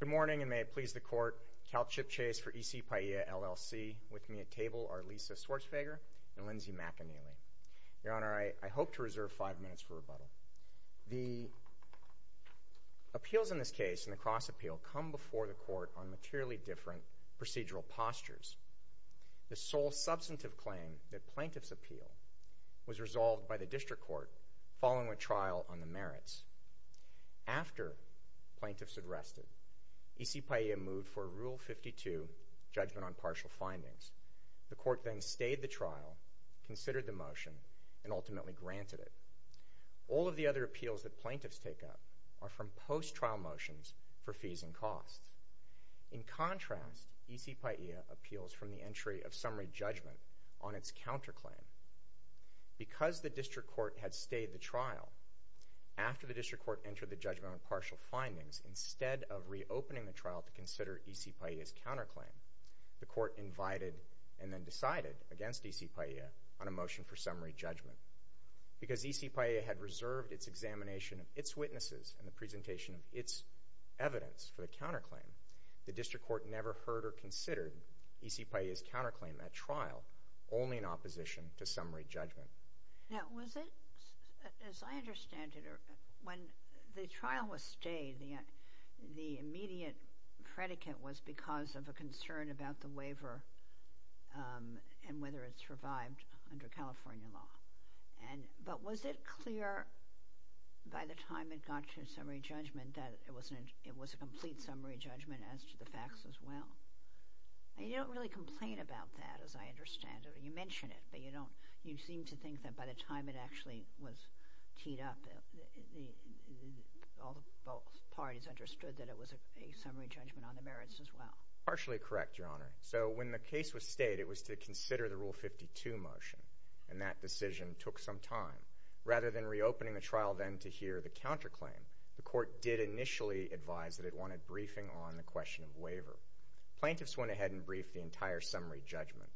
Good morning, and may it please the Court, CalCHIP Chase for EC PAIA LLC, with me at table are Lisa Schwarzwager and Lindsay McAneely. Your Honor, I hope to reserve five minutes for rebuttal. The appeals in this case, in the cross appeal, come before the Court on materially different procedural postures. The sole substantive claim that plaintiff's appeal was resolved by the District Court following a trial on the merits. After plaintiff's arrested, EC PAIA moved for Rule 52, Judgment on Partial Findings. The Court then stayed the trial, considered the motion, and ultimately granted it. All of the other appeals that plaintiffs take up are from post-trial motions for fees and costs. In contrast, EC PAIA appeals from the entry of summary judgment on its counterclaim. Because the District Court had stayed the trial, after the District Court entered the judgment on partial findings, instead of reopening the trial to consider EC PAIA's counterclaim, the Court invited and then decided against EC PAIA on a motion for summary judgment. Because EC PAIA had reserved its examination of its witnesses and the presentation of its evidence for the counterclaim, the District Court never heard or considered EC PAIA's summary judgment. Now, was it, as I understand it, when the trial was stayed, the immediate predicate was because of a concern about the waiver and whether it survived under California law. But was it clear by the time it got to summary judgment that it was a complete summary judgment as to the facts as well? You don't really complain about that, as I understand it. You mention it, but you don't, you seem to think that by the time it actually was teed up, all the parties understood that it was a summary judgment on the merits as well. Partially correct, Your Honor. So, when the case was stayed, it was to consider the Rule 52 motion, and that decision took some time. Rather than reopening the trial then to hear the counterclaim, the Court did initially advise that it wanted briefing on the question of waiver. Plaintiffs went ahead and briefed the entire summary judgment.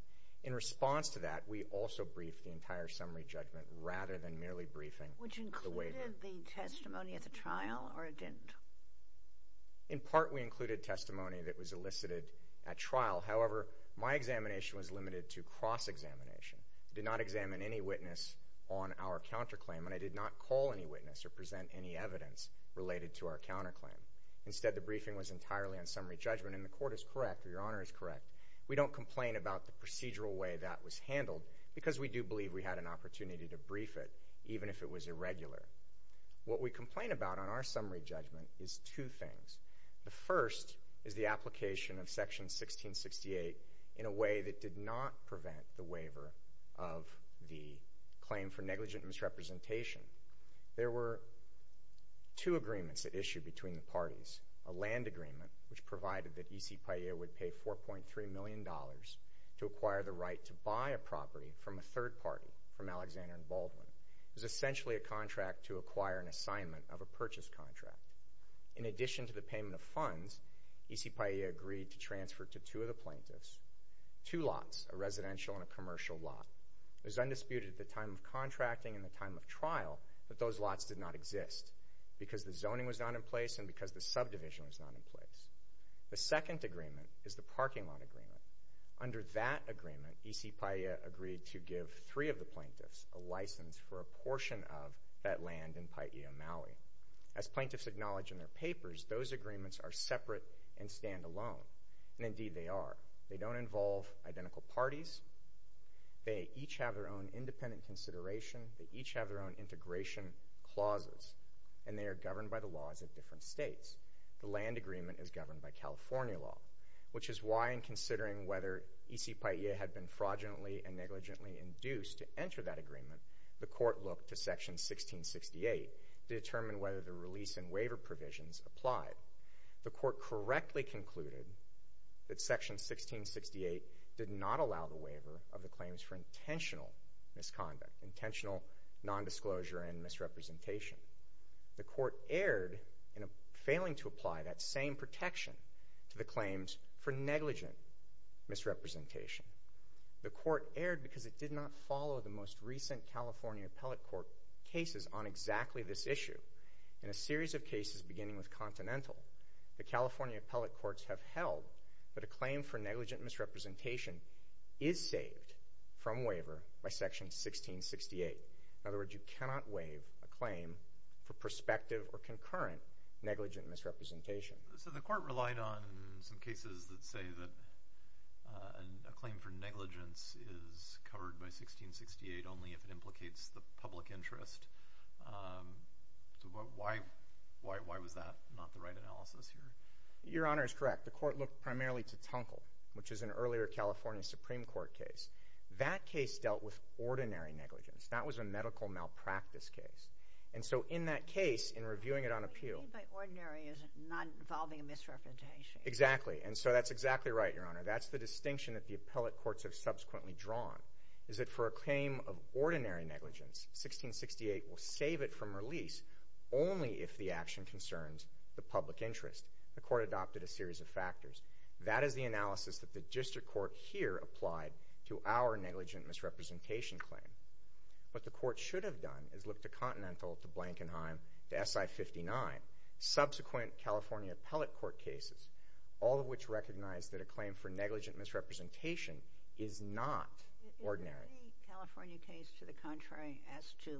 In response to that, we also briefed the entire summary judgment rather than merely briefing the waiver. Which included the testimony at the trial, or it didn't? In part, we included testimony that was elicited at trial. However, my examination was limited to cross-examination. I did not examine any witness on our counterclaim, and I did not call any witness or present any witness. Instead, the briefing was entirely on summary judgment, and the Court is correct, or Your Honor is correct. We don't complain about the procedural way that was handled, because we do believe we had an opportunity to brief it, even if it was irregular. What we complain about on our summary judgment is two things. The first is the application of Section 1668 in a way that did not prevent the waiver of the claim for negligent misrepresentation. There were two agreements that issued between the parties. A land agreement, which provided that E.C. Pailla would pay $4.3 million to acquire the right to buy a property from a third party, from Alexander and Baldwin. It was essentially a contract to acquire an assignment of a purchase contract. In addition to the payment of funds, E.C. Pailla agreed to transfer to two of the plaintiffs two lots, a residential and a commercial lot. It was undisputed at the time of contracting and the time of trial that those lots did not exist, because the zoning was not in place and because the subdivision was not in place. The second agreement is the parking lot agreement. Under that agreement, E.C. Pailla agreed to give three of the plaintiffs a license for a portion of that land in Pai'ia, Maui. As plaintiffs acknowledge in their papers, those agreements are separate and stand alone, and indeed they are. They don't involve identical parties. They each have their own independent consideration. They each have their own integration clauses, and they are governed by the laws of different states. The land agreement is governed by California law, which is why in considering whether E.C. Pai'ia had been fraudulently and negligently induced to enter that agreement, the court looked to Section 1668 to determine whether the release and waiver provisions applied. The court correctly concluded that Section 1668 did not allow the waiver of the claims for intentional misconduct, intentional nondisclosure and misrepresentation. The court erred in failing to apply that same protection to the claims for negligent misrepresentation. The court erred because it did not follow the most recent California appellate court cases on exactly this issue. In a series of cases beginning with Continental, the California appellate courts have held that a claim for negligent misrepresentation is saved from waiver by Section 1668. In other words, you cannot waive a claim for prospective or concurrent negligent misrepresentation. So the court relied on some cases that say that a claim for negligence is covered by Section 1668. Why was that not the right analysis here? Your Honor, it's correct. The court looked primarily to Tunkle, which is an earlier California Supreme Court case. That case dealt with ordinary negligence. That was a medical malpractice case. And so in that case, in reviewing it on appeal— But what do you mean by ordinary? Is it not involving a misrepresentation? Exactly. And so that's exactly right, Your Honor. That's the distinction that the appellate courts have subsequently drawn, is that for a claim of ordinary negligence, 1668 will save it from release only if the action concerns the public interest. The court adopted a series of factors. That is the analysis that the district court here applied to our negligent misrepresentation claim. What the court should have done is looked to Continental, to Blankenheim, to SI-59, subsequent California appellate court cases, all of which recognize that a claim for negligent misrepresentation is not ordinary. Is there any California case to the contrary as to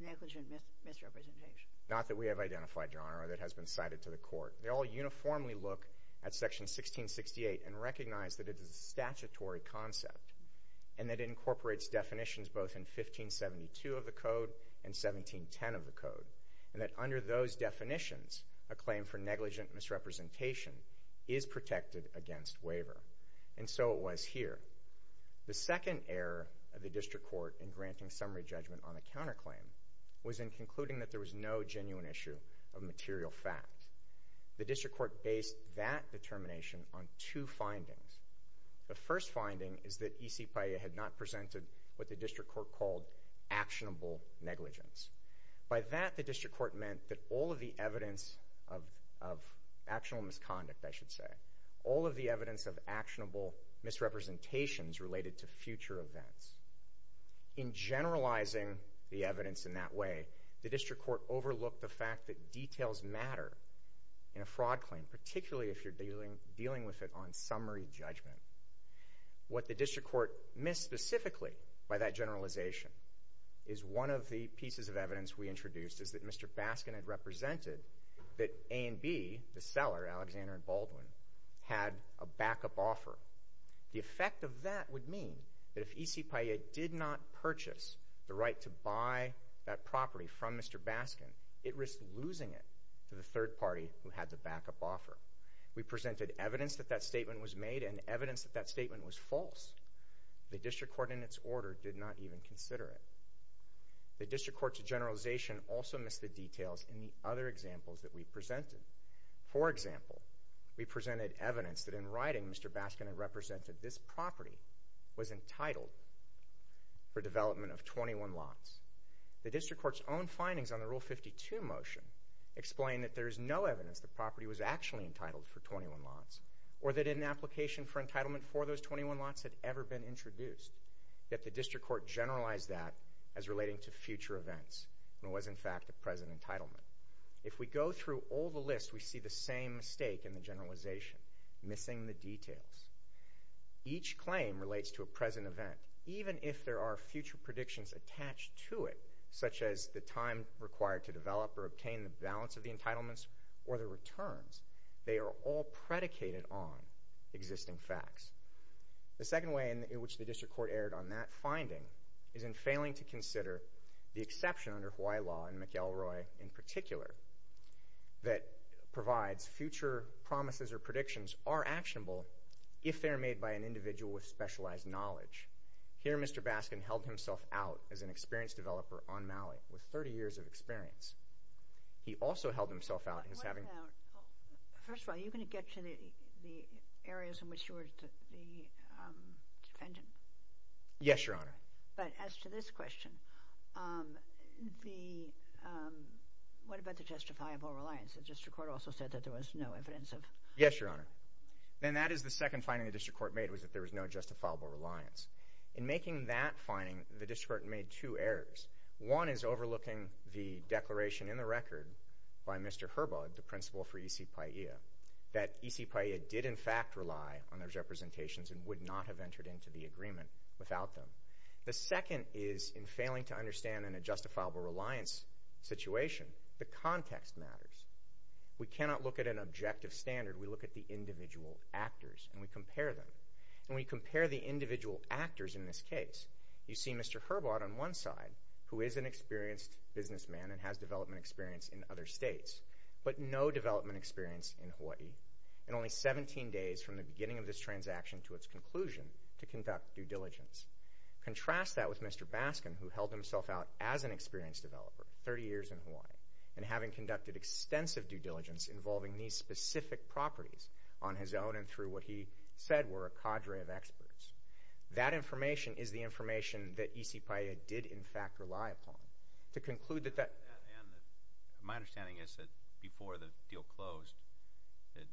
negligent misrepresentation? Not that we have identified, Your Honor, or that has been cited to the court. They all uniformly look at Section 1668 and recognize that it is a statutory concept and that it incorporates definitions both in 1572 of the Code and 1710 of the Code, and that is protected against waiver. And so it was here. The second error of the district court in granting summary judgment on a counterclaim was in concluding that there was no genuine issue of material fact. The district court based that determination on two findings. The first finding is that EC PIA had not presented what the district court called actionable negligence. By that, the district court meant that all of the evidence of actionable misconduct, I should say, all of the evidence of actionable misrepresentations related to future events. In generalizing the evidence in that way, the district court overlooked the fact that details matter in a fraud claim, particularly if you're dealing with it on summary judgment. What the district court missed specifically by that generalization is one of the pieces of evidence we introduced is that Mr. Baskin had represented that A and B, the seller, Alexander and Baldwin, had a backup offer. The effect of that would mean that if EC PIA did not purchase the right to buy that property from Mr. Baskin, it risked losing it to the third party who had the backup offer. We presented evidence that that statement was made and evidence that that statement was false. The district court, in its order, did not even consider it. The district court's generalization also missed the details in the other examples that we presented. For example, we presented evidence that in writing Mr. Baskin had represented this property was entitled for development of 21 lots. The district court's own findings on the Rule 52 motion explain that there is no evidence the property was actually entitled for 21 lots or that an application for entitlement for those 21 lots had ever been introduced, yet the district court generalized that as relating to future events and was, in fact, a present entitlement. If we go through all the lists, we see the same mistake in the generalization, missing the details. Each claim relates to a present event, even if there are future predictions attached to it, such as the time required to develop or obtain the balance of the entitlements or the returns. They are all predicated on existing facts. The second way in which the district court erred on that finding is in failing to consider the exception under Hawaii law, and McElroy in particular, that provides future promises or predictions are actionable if they are made by an individual with specialized knowledge. Here Mr. Baskin held himself out as an experienced developer on Maui with 30 years of experience. He also held himself out as having... First of all, are you going to get to the areas in which you were the defendant? Yes, Your Honor. But as to this question, what about the justifiable reliance? The district court also said that there was no evidence of... Yes, Your Honor. And that is the second finding the district court made was that there was no justifiable reliance. In making that finding, the district court made two errors. One is overlooking the declaration in the record by Mr. Herbaut, the principal for E.C. Paia, that E.C. Paia did in fact rely on those representations and would not have entered into the agreement without them. The second is in failing to understand in a justifiable reliance situation, the context matters. We cannot look at an objective standard. We look at the individual actors and we compare them. And when you compare the individual actors in this case, you see Mr. Herbaut on one side who is an experienced businessman and has development experience in other states, but no development experience in Hawaii, and only 17 days from the beginning of this transaction to its conclusion to conduct due diligence. Contrast that with Mr. Baskin who held himself out as an experienced developer, 30 years in Hawaii, and having conducted extensive due diligence involving these specific properties on his own and through what he said were a cadre of experts. That information is the information that E.C. Paia did in fact rely upon. To conclude that that And my understanding is that before the deal closed, that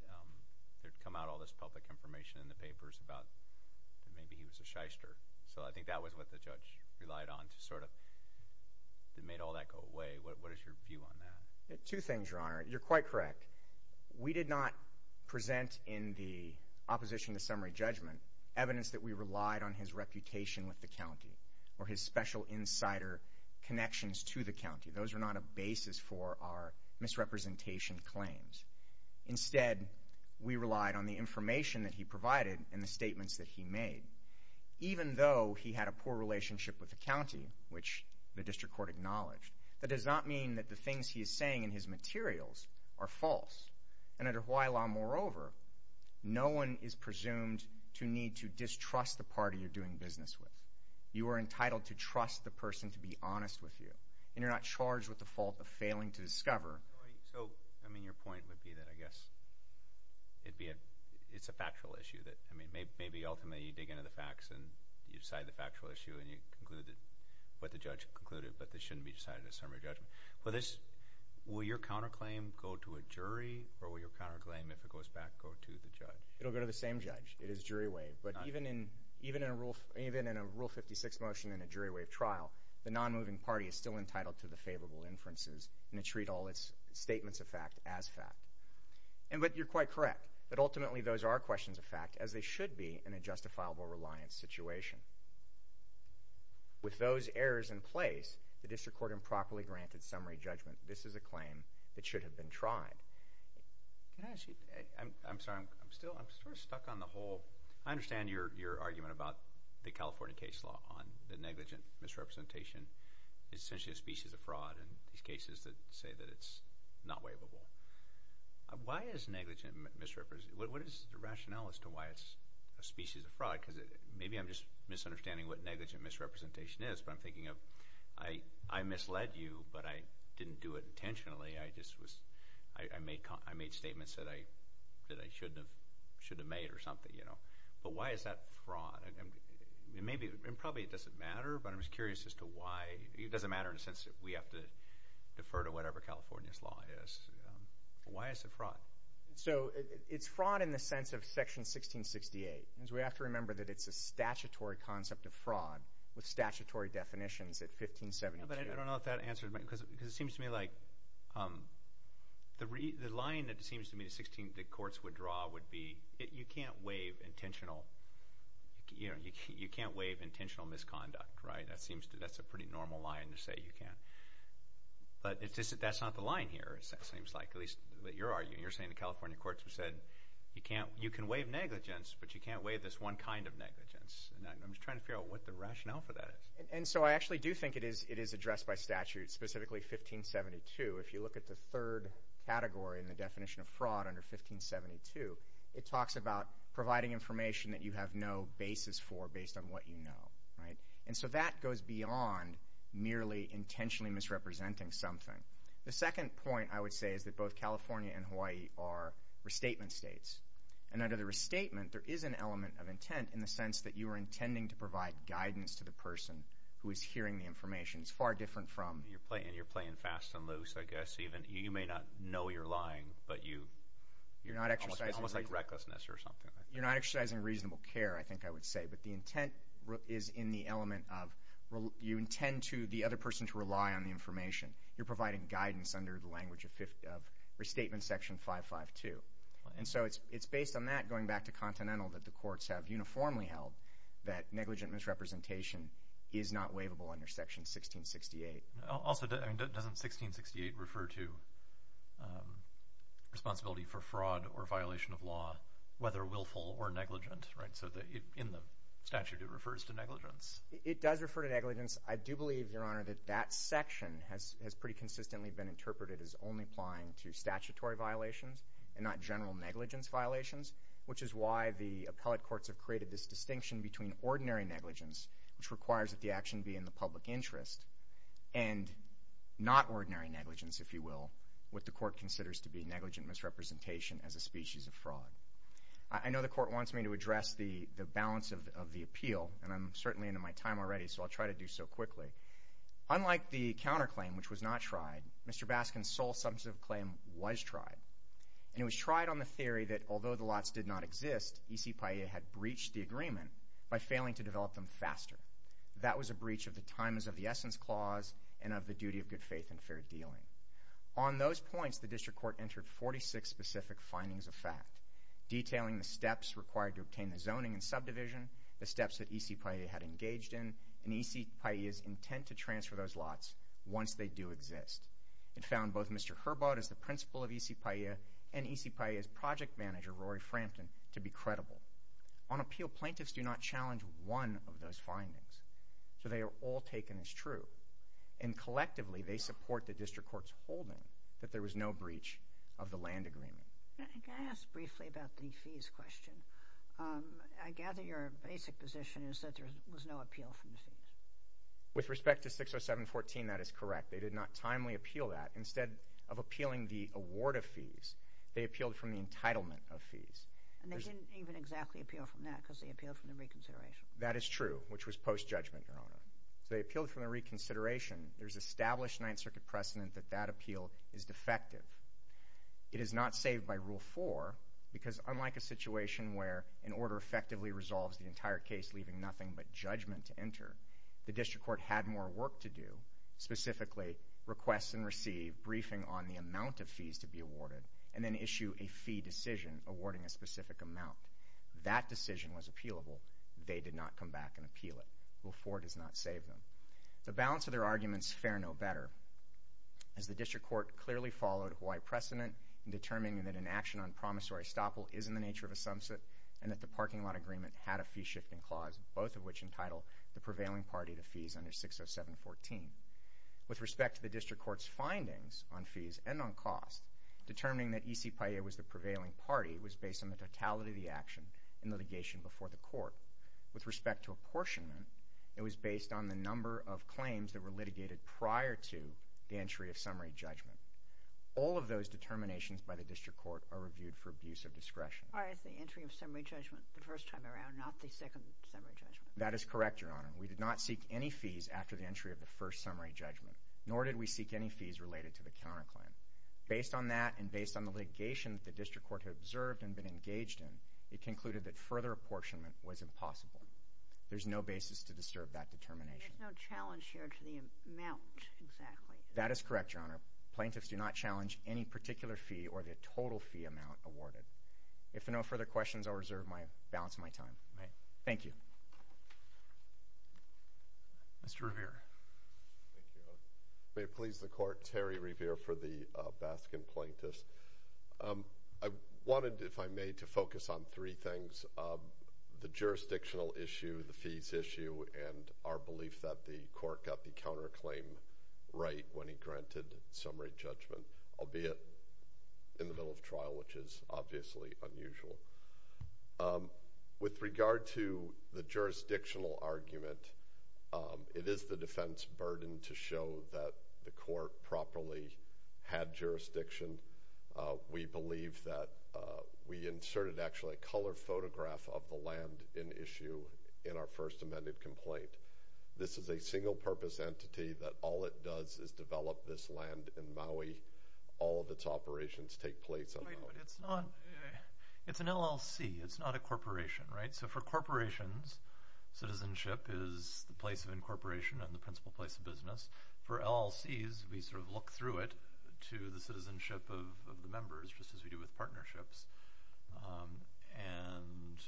there had come out all this public information in the papers about maybe he was a shyster. So I think that was what the judge relied on to sort of, that made all that go away. What is your view on that? Two things, Your Honor. You're quite correct. We did not present in the opposition to summary judgment evidence that we relied on his reputation with the county or his special insider connections to the county. Those are not a basis for our misrepresentation claims. Instead, we relied on the information that he provided and the statements that he made. Even though he had a poor relationship with the county, which the district court acknowledged, that does not mean that the things he is saying in his materials are false. And under Hawaii law, moreover, no one is presumed to need to distrust the party you're doing business with. You are entitled to trust the person to be honest with you, and you're not charged with the fault of failing to discover. So, I mean, your point would be that I guess it's a factual issue. Maybe ultimately you dig into the facts and you decide the factual issue, and you conclude what the judge concluded, but this shouldn't be decided as summary judgment. Will your counterclaim go to a jury, or will your counterclaim, if it goes back, go to the judge? It will go to the same judge. It is jury-waived. But even in a Rule 56 motion and a jury-waived trial, the non-moving party is still entitled to the favorable inferences and to treat all its statements of fact as fact. But you're quite correct that ultimately those are questions of fact, as they should be in a justifiable reliance situation. With those errors in place, the district court improperly granted summary judgment. This is a claim that should have been tried. Can I ask you, I'm sorry, I'm still, I'm sort of stuck on the whole, I understand your argument about the California case law on the negligent misrepresentation. It's essentially a species of fraud in these cases that say that it's not waivable. Why is negligent misrepresentation, what is the rationale as to why it's a species of fraud? Because maybe I'm just misunderstanding what negligent misrepresentation is, but I'm thinking of I misled you, but I didn't do it intentionally. I just was, I made statements that I shouldn't have made or something, you know. But why is that fraud? Maybe, and probably it doesn't matter, but I'm just curious as to why, it doesn't matter in the sense that we have to defer to whatever California's law is. Why is it fraud? So it's fraud in the sense of Section 1668. We have to remember that it's a statutory concept of fraud with statutory definitions at 1572. But I don't know if that answers my, because it seems to me like, the line that it seems to me that 16, that courts would draw would be, you can't waive intentional, you know, you can't waive intentional misconduct, right? That seems to, that's a pretty normal line to say you can't. But that's not the line here, it seems like, at least your argument. You're saying the California courts have said you can't, you can waive negligence, but you can't waive this one kind of negligence. I'm just trying to figure out what the rationale for that is. And so I actually do think it is addressed by statute, specifically 1572. If you look at the third category in the definition of fraud under 1572, it talks about providing information that you have no basis for based on what you know, right? And so that goes beyond merely intentionally misrepresenting something. The second point I would say is that both California and Hawaii are restatement states. And under the restatement, there is an element of intent in the sense that you are intending to provide guidance to the person who is hearing the information. It's far different from. You're playing fast and loose, I guess. You may not know you're lying, but you. You're not exercising. It's almost like recklessness or something. You're not exercising reasonable care, I think I would say. But the intent is in the element of you intend to the other person to rely on the information. You're providing guidance under the language of restatement section 552. And so it's based on that, going back to Continental, that the courts have uniformly held that negligent misrepresentation is not waivable under section 1668. Also, doesn't 1668 refer to responsibility for fraud or violation of law, whether willful or negligent? Right? So in the statute, it refers to negligence. It does refer to negligence. I do believe, Your Honor, that that section has pretty consistently been interpreted as only applying to statutory violations and not general negligence violations, which is why the appellate courts have created this distinction between ordinary negligence, which requires that the action be in the public interest, and not ordinary negligence, if you will, I know the court wants me to address the balance of the appeal, and I'm certainly into my time already, so I'll try to do so quickly. Unlike the counterclaim, which was not tried, Mr. Baskin's sole substantive claim was tried. And it was tried on the theory that although the lots did not exist, E.C. Paillet had breached the agreement by failing to develop them faster. That was a breach of the times of the essence clause and of the duty of good faith and fair dealing. On those points, the district court entered 46 specific findings of fact, detailing the steps required to obtain the zoning and subdivision, the steps that E.C. Paillet had engaged in, and E.C. Paillet's intent to transfer those lots once they do exist. It found both Mr. Herbaut as the principal of E.C. Paillet and E.C. Paillet's project manager, Rory Frampton, to be credible. On appeal, plaintiffs do not challenge one of those findings, so they are all taken as true. And collectively, they support the district court's holding that there was no breach of the land agreement. Can I ask briefly about the fees question? I gather your basic position is that there was no appeal from the fees. With respect to 607.14, that is correct. They did not timely appeal that. Instead of appealing the award of fees, they appealed from the entitlement of fees. And they didn't even exactly appeal from that because they appealed from the reconsideration. That is true, which was post-judgment, Your Honor. So they appealed from the reconsideration. There is established Ninth Circuit precedent that that appeal is defective. It is not saved by Rule 4 because, unlike a situation where an order effectively resolves the entire case, leaving nothing but judgment to enter, the district court had more work to do, specifically request and receive, briefing on the amount of fees to be awarded, and then issue a fee decision awarding a specific amount. That decision was appealable. They did not come back and appeal it. Rule 4 does not save them. The balance of their arguments fair no better as the district court clearly followed Hawaii precedent in determining that an action on promissory estoppel is in the nature of a sumsit, and that the parking lot agreement had a fee-shifting clause, both of which entitle the prevailing party to fees under 607.14. With respect to the district court's findings on fees and on cost, determining that E.C. Payet was the prevailing party was based on the totality of the action in litigation before the court. With respect to apportionment, it was based on the number of claims that were litigated prior to the entry of summary judgment. All of those determinations by the district court are reviewed for abuse of discretion. Prior to the entry of summary judgment the first time around, not the second summary judgment. That is correct, Your Honor. We did not seek any fees after the entry of the first summary judgment, nor did we seek any fees related to the counterclaim. Based on that and based on the litigation that the district court had observed and been engaged in, it concluded that further apportionment was impossible. There's no basis to disturb that determination. There's no challenge here to the amount, exactly. That is correct, Your Honor. Plaintiffs do not challenge any particular fee or the total fee amount awarded. If there are no further questions, I'll reserve my balance of my time. Thank you. Mr. Revere. May it please the Court. Terry Revere for the Baskin Plaintiffs. I wanted, if I may, to focus on three things. The jurisdictional issue, the fees issue, and our belief that the court got the counterclaim right when he granted summary judgment, albeit in the middle of trial, which is obviously unusual. With regard to the jurisdictional argument, it is the defense's burden to show that the court properly had jurisdiction when we believe that we inserted, actually, a color photograph of the land in issue in our first amended complaint. This is a single-purpose entity that all it does is develop this land in Maui. All of its operations take place on Maui. It's an LLC. It's not a corporation, right? So for corporations, citizenship is the place of incorporation and the principal place of business. For LLCs, we sort of look through it to the citizenship of the members, just as we do with partnerships. And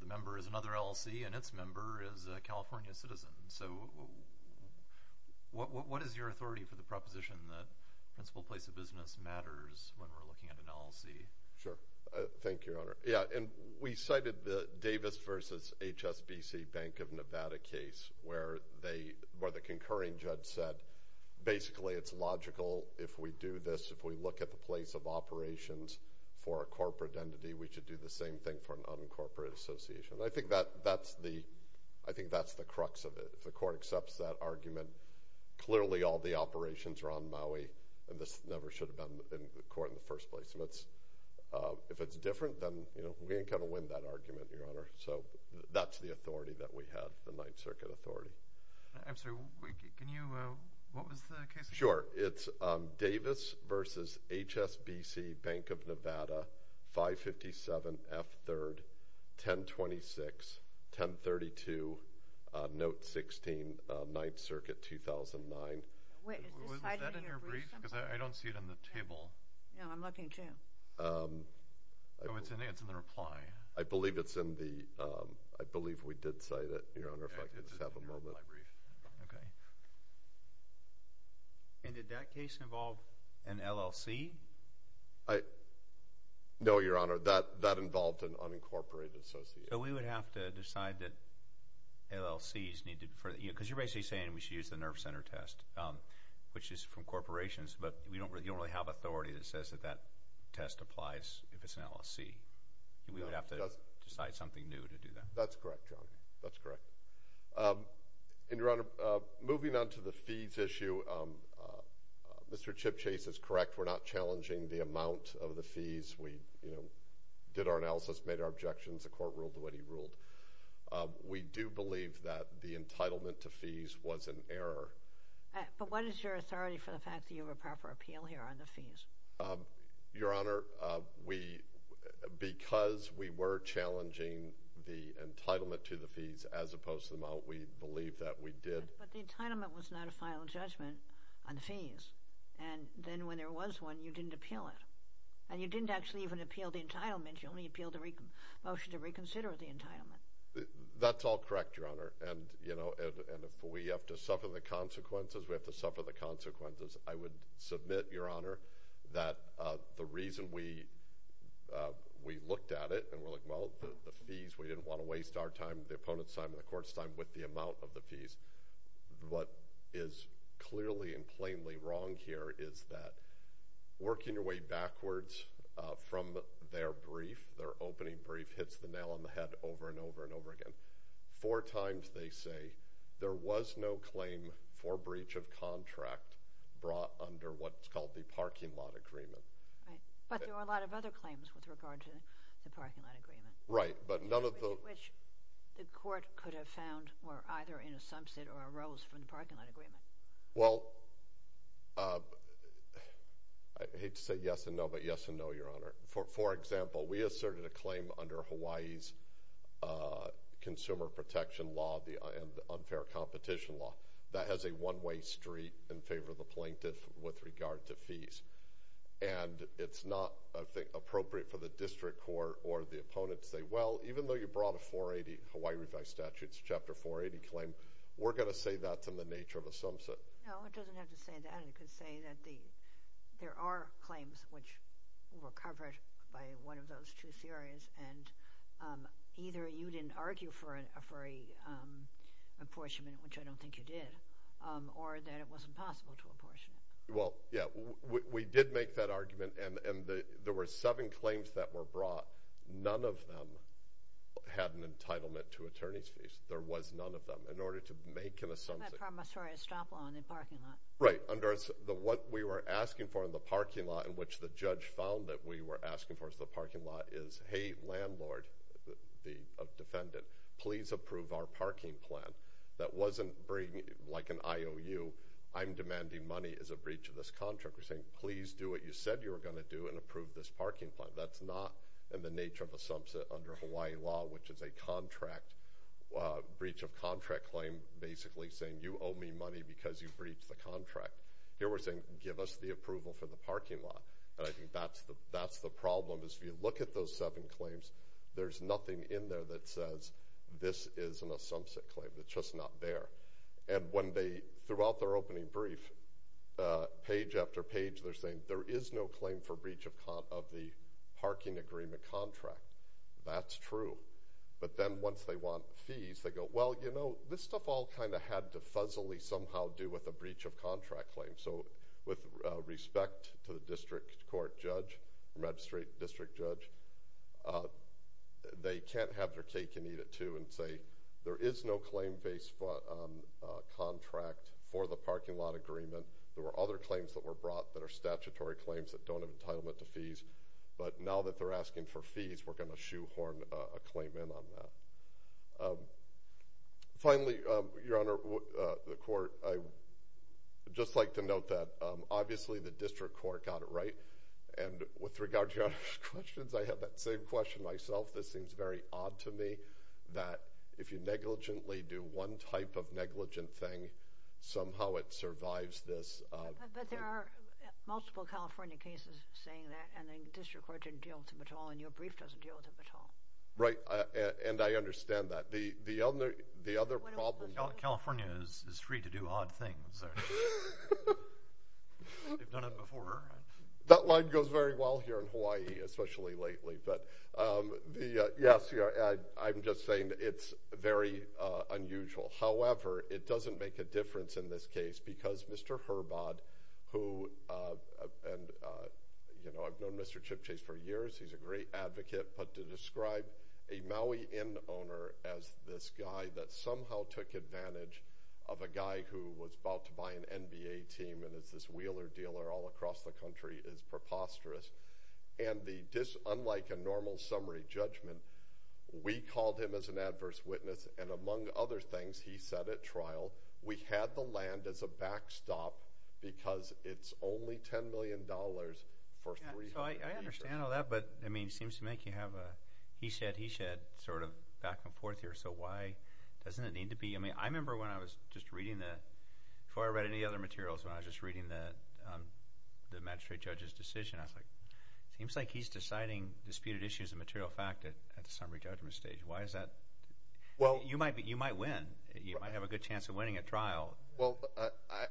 the member is another LLC, and its member is a California citizen. So what is your authority for the proposition that the principal place of business matters when we're looking at an LLC? Sure. Thank you, Your Honor. Yeah, and we cited the Davis v. HSBC Bank of Nevada case where the concurring judge said, basically, it's logical if we do this, if we look at the place of operations for a corporate entity, we should do the same thing for an uncorporated association. I think that's the crux of it. If the court accepts that argument, clearly all the operations are on Maui, and this never should have been in court in the first place. If it's different, then we ain't going to win that argument, Your Honor. So that's the authority that we have, the Ninth Circuit authority. I'm sorry. Can you – what was the case? Sure. It's Davis v. HSBC Bank of Nevada, 557 F. 3rd, 1026, 1032, Note 16, Ninth Circuit, 2009. Was that in your brief? Because I don't see it in the table. No, I'm looking at you. Oh, it's in the reply. I believe it's in the – I believe we did cite it, Your Honor, if I could just have a moment. Okay. And did that case involve an LLC? No, Your Honor. That involved an unincorporated association. So we would have to decide that LLCs need to – because you're basically saying we should use the nerve center test, which is from corporations, but you don't really have authority that says that that test applies if it's an LLC. We would have to decide something new to do that. That's correct, Your Honor. That's correct. And, Your Honor, moving on to the fees issue, Mr. Chip Chase is correct. We're not challenging the amount of the fees. We did our analysis, made our objections. The Court ruled the way he ruled. We do believe that the entitlement to fees was an error. But what is your authority for the fact that you have a proper appeal here on the fees? Your Honor, because we were challenging the entitlement to the fees, as opposed to the amount we believe that we did. But the entitlement was not a final judgment on the fees. And then when there was one, you didn't appeal it. And you didn't actually even appeal the entitlement. You only appealed the motion to reconsider the entitlement. That's all correct, Your Honor. I would submit, Your Honor, that the reason we looked at it and were like, well, the fees, we didn't want to waste our time, the opponent's time, and the Court's time with the amount of the fees. What is clearly and plainly wrong here is that working your way backwards from their brief, their opening brief hits the nail on the head over and over and over again. Four times they say there was no claim for breach of contract brought under what's called the parking lot agreement. Right, but there were a lot of other claims with regard to the parking lot agreement. Right, but none of the – Which the Court could have found were either in a sumsit or arose from the parking lot agreement. Well, I hate to say yes and no, but yes and no, Your Honor. For example, we asserted a claim under Hawaii's consumer protection law and unfair competition law. That has a one-way street in favor of the plaintiff with regard to fees. And it's not appropriate for the district court or the opponent to say, well, even though you brought a Hawaii revised statutes Chapter 480 claim, we're going to say that's in the nature of a sumsit. No, it doesn't have to say that. It could say that there are claims which were covered by one of those two theories and either you didn't argue for an apportionment, which I don't think you did, or that it was impossible to apportion. Well, yeah, we did make that argument, and there were seven claims that were brought. None of them had an entitlement to attorney's fees. There was none of them. In order to make an assumption – Right. What we were asking for in the parking lot in which the judge found that we were asking for in the parking lot is, hey, landlord, defendant, please approve our parking plan. That wasn't like an IOU. I'm demanding money as a breach of this contract. We're saying, please do what you said you were going to do and approve this parking plan. That's not in the nature of a sumsit under Hawaii law, which is a breach of contract claim basically saying, you owe me money because you breached the contract. Here we're saying, give us the approval for the parking lot. And I think that's the problem is if you look at those seven claims, there's nothing in there that says this is a sumsit claim. It's just not there. And when they – throughout their opening brief, page after page, they're saying, there is no claim for breach of the parking agreement contract. That's true. But then once they want fees, they go, well, you know, this stuff all kind of had to fuzzily somehow do with a breach of contract claim. So with respect to the district court judge, the magistrate district judge, they can't have their cake and eat it too and say, there is no claim-based contract for the parking lot agreement. There were other claims that were brought that are statutory claims that don't have entitlement to fees. But now that they're asking for fees, we're going to shoehorn a claim in on that. Finally, Your Honor, the court, I'd just like to note that obviously the district court got it right. And with regard to Your Honor's questions, I have that same question myself. This seems very odd to me that if you negligently do one type of negligent thing, somehow it survives this. But there are multiple California cases saying that. And the district court didn't deal with them at all. And your brief doesn't deal with them at all. Right. And I understand that. The other problem – California is free to do odd things. They've done it before. That line goes very well here in Hawaii, especially lately. But yes, I'm just saying it's very unusual. However, it doesn't make a difference in this case because Mr. Herbod, who – and, you know, I've known Mr. Chip Chase for years. He's a great advocate. But to describe a Maui Inn owner as this guy that somehow took advantage of a guy who was about to buy an NBA team and is this Wheeler dealer all across the country is preposterous. And unlike a normal summary judgment, we called him as an adverse witness. And among other things, he said at trial, we had the land as a backstop because it's only $10 million for three years. So I understand all that. But, I mean, it seems to make you have a he said, he said sort of back and forth here. So why doesn't it need to be – I mean, I remember when I was just reading the – before I read any other materials, when I was just reading the magistrate judge's decision, I was like, it seems like he's deciding disputed issues of material fact at the summary judgment stage. Why is that? You might win. You might have a good chance of winning at trial. Well,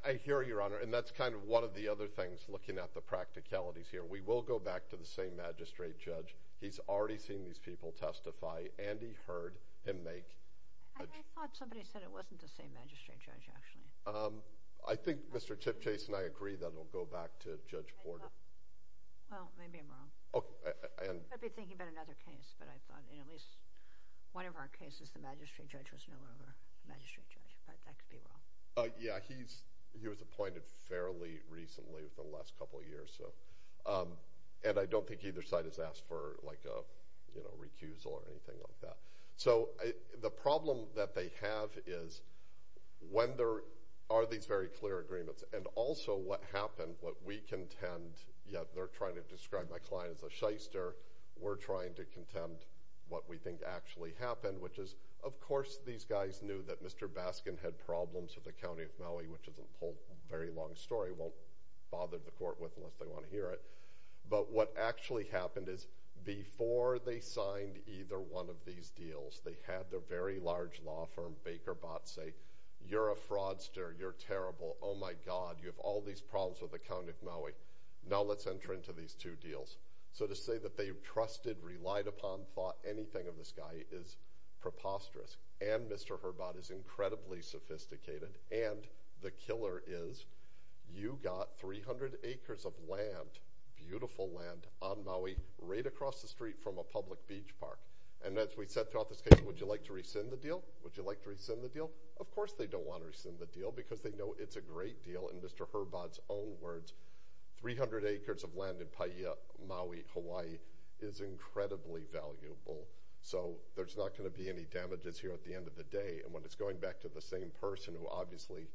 I hear you, Your Honor, and that's kind of one of the other things looking at the practicalities here. We will go back to the same magistrate judge. He's already seen these people testify, and he heard him make – I thought somebody said it wasn't the same magistrate judge actually. I think Mr. Chip Chase and I agree that it will go back to Judge Porter. Well, maybe I'm wrong. I've been thinking about another case, but I thought in at least one of our cases the magistrate judge was no lower than the magistrate judge, but that could be wrong. Yeah, he was appointed fairly recently within the last couple of years, and I don't think either side has asked for, like, a recusal or anything like that. So the problem that they have is when there are these very clear agreements and also what happened, what we contend – yeah, they're trying to describe my client as a shyster. We're trying to contend what we think actually happened, which is, of course, these guys knew that Mr. Baskin had problems with the County of Maui, which is a very long story. Won't bother the court with it unless they want to hear it. But what actually happened is before they signed either one of these deals, they had their very large law firm, Baker Botts, say, Mr. Herbott, you have all these problems with the County of Maui. Now let's enter into these two deals. So to say that they trusted, relied upon, thought anything of this guy is preposterous. And Mr. Herbott is incredibly sophisticated. And the killer is you got 300 acres of land, beautiful land, on Maui right across the street from a public beach park. And as we said throughout this case, would you like to rescind the deal? Would you like to rescind the deal? Of course they don't want to rescind the deal because they know it's a great deal. In Mr. Herbott's own words, 300 acres of land in Paia, Maui, Hawaii is incredibly valuable. So there's not going to be any damages here at the end of the day. And when it's going back to the same person who obviously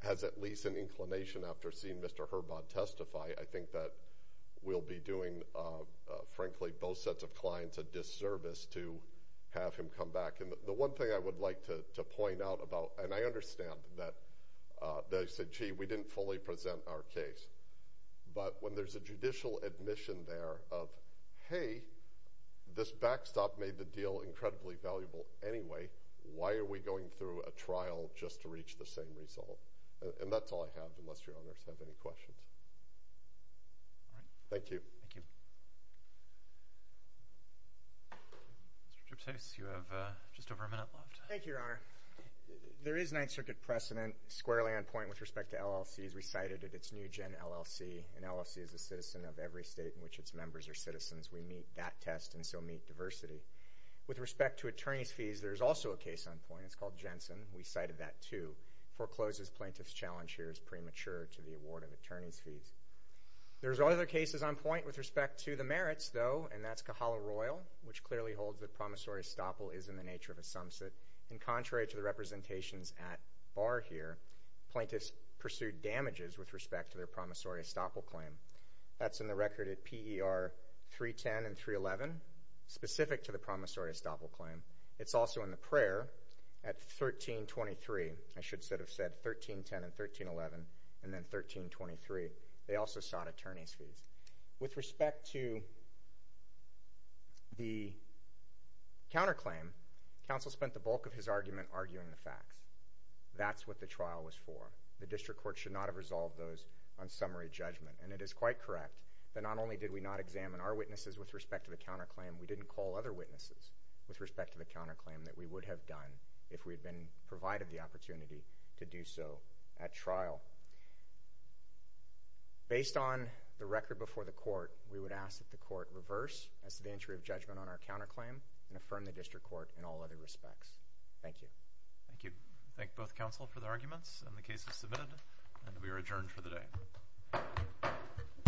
has at least an inclination after seeing Mr. Herbott testify, I think that we'll be doing, frankly, both sets of clients a disservice to have him come back. And the one thing I would like to point out about – and I understand that they said, gee, we didn't fully present our case. But when there's a judicial admission there of, hey, this backstop made the deal incredibly valuable anyway, why are we going through a trial just to reach the same result? And that's all I have, unless your honors have any questions. Thank you. Thank you. Mr. Gyptos, you have just over a minute left. Thank you, Your Honor. There is Ninth Circuit precedent. Squarely on point with respect to LLCs, we cited that it's new gen LLC. An LLC is a citizen of every state in which its members are citizens. We meet that test and so meet diversity. With respect to attorney's fees, there's also a case on point. It's called Jensen. We cited that too. Forecloses plaintiff's challenge here is premature to the award of attorney's fees. There's other cases on point with respect to the merits, though, and that's Kahala Royal, which clearly holds that promissory estoppel is in the nature of a sumsit. And contrary to the representations at bar here, plaintiffs pursued damages with respect to their promissory estoppel claim. That's in the record at PER 310 and 311, specific to the promissory estoppel claim. It's also in the prayer at 1323. I should have said 1310 and 1311 and then 1323. They also sought attorney's fees. With respect to the counterclaim, counsel spent the bulk of his argument arguing the facts. That's what the trial was for. The district court should not have resolved those on summary judgment. And it is quite correct that not only did we not examine our witnesses with respect to the counterclaim, we didn't call other witnesses with respect to the counterclaim that we would have done if we had been provided the opportunity to do so at trial. Based on the record before the court, we would ask that the court reverse as to the entry of judgment on our counterclaim and affirm the district court in all other respects. Thank you. Thank you. Thank both counsel for the arguments and the cases submitted. And we are adjourned for the day.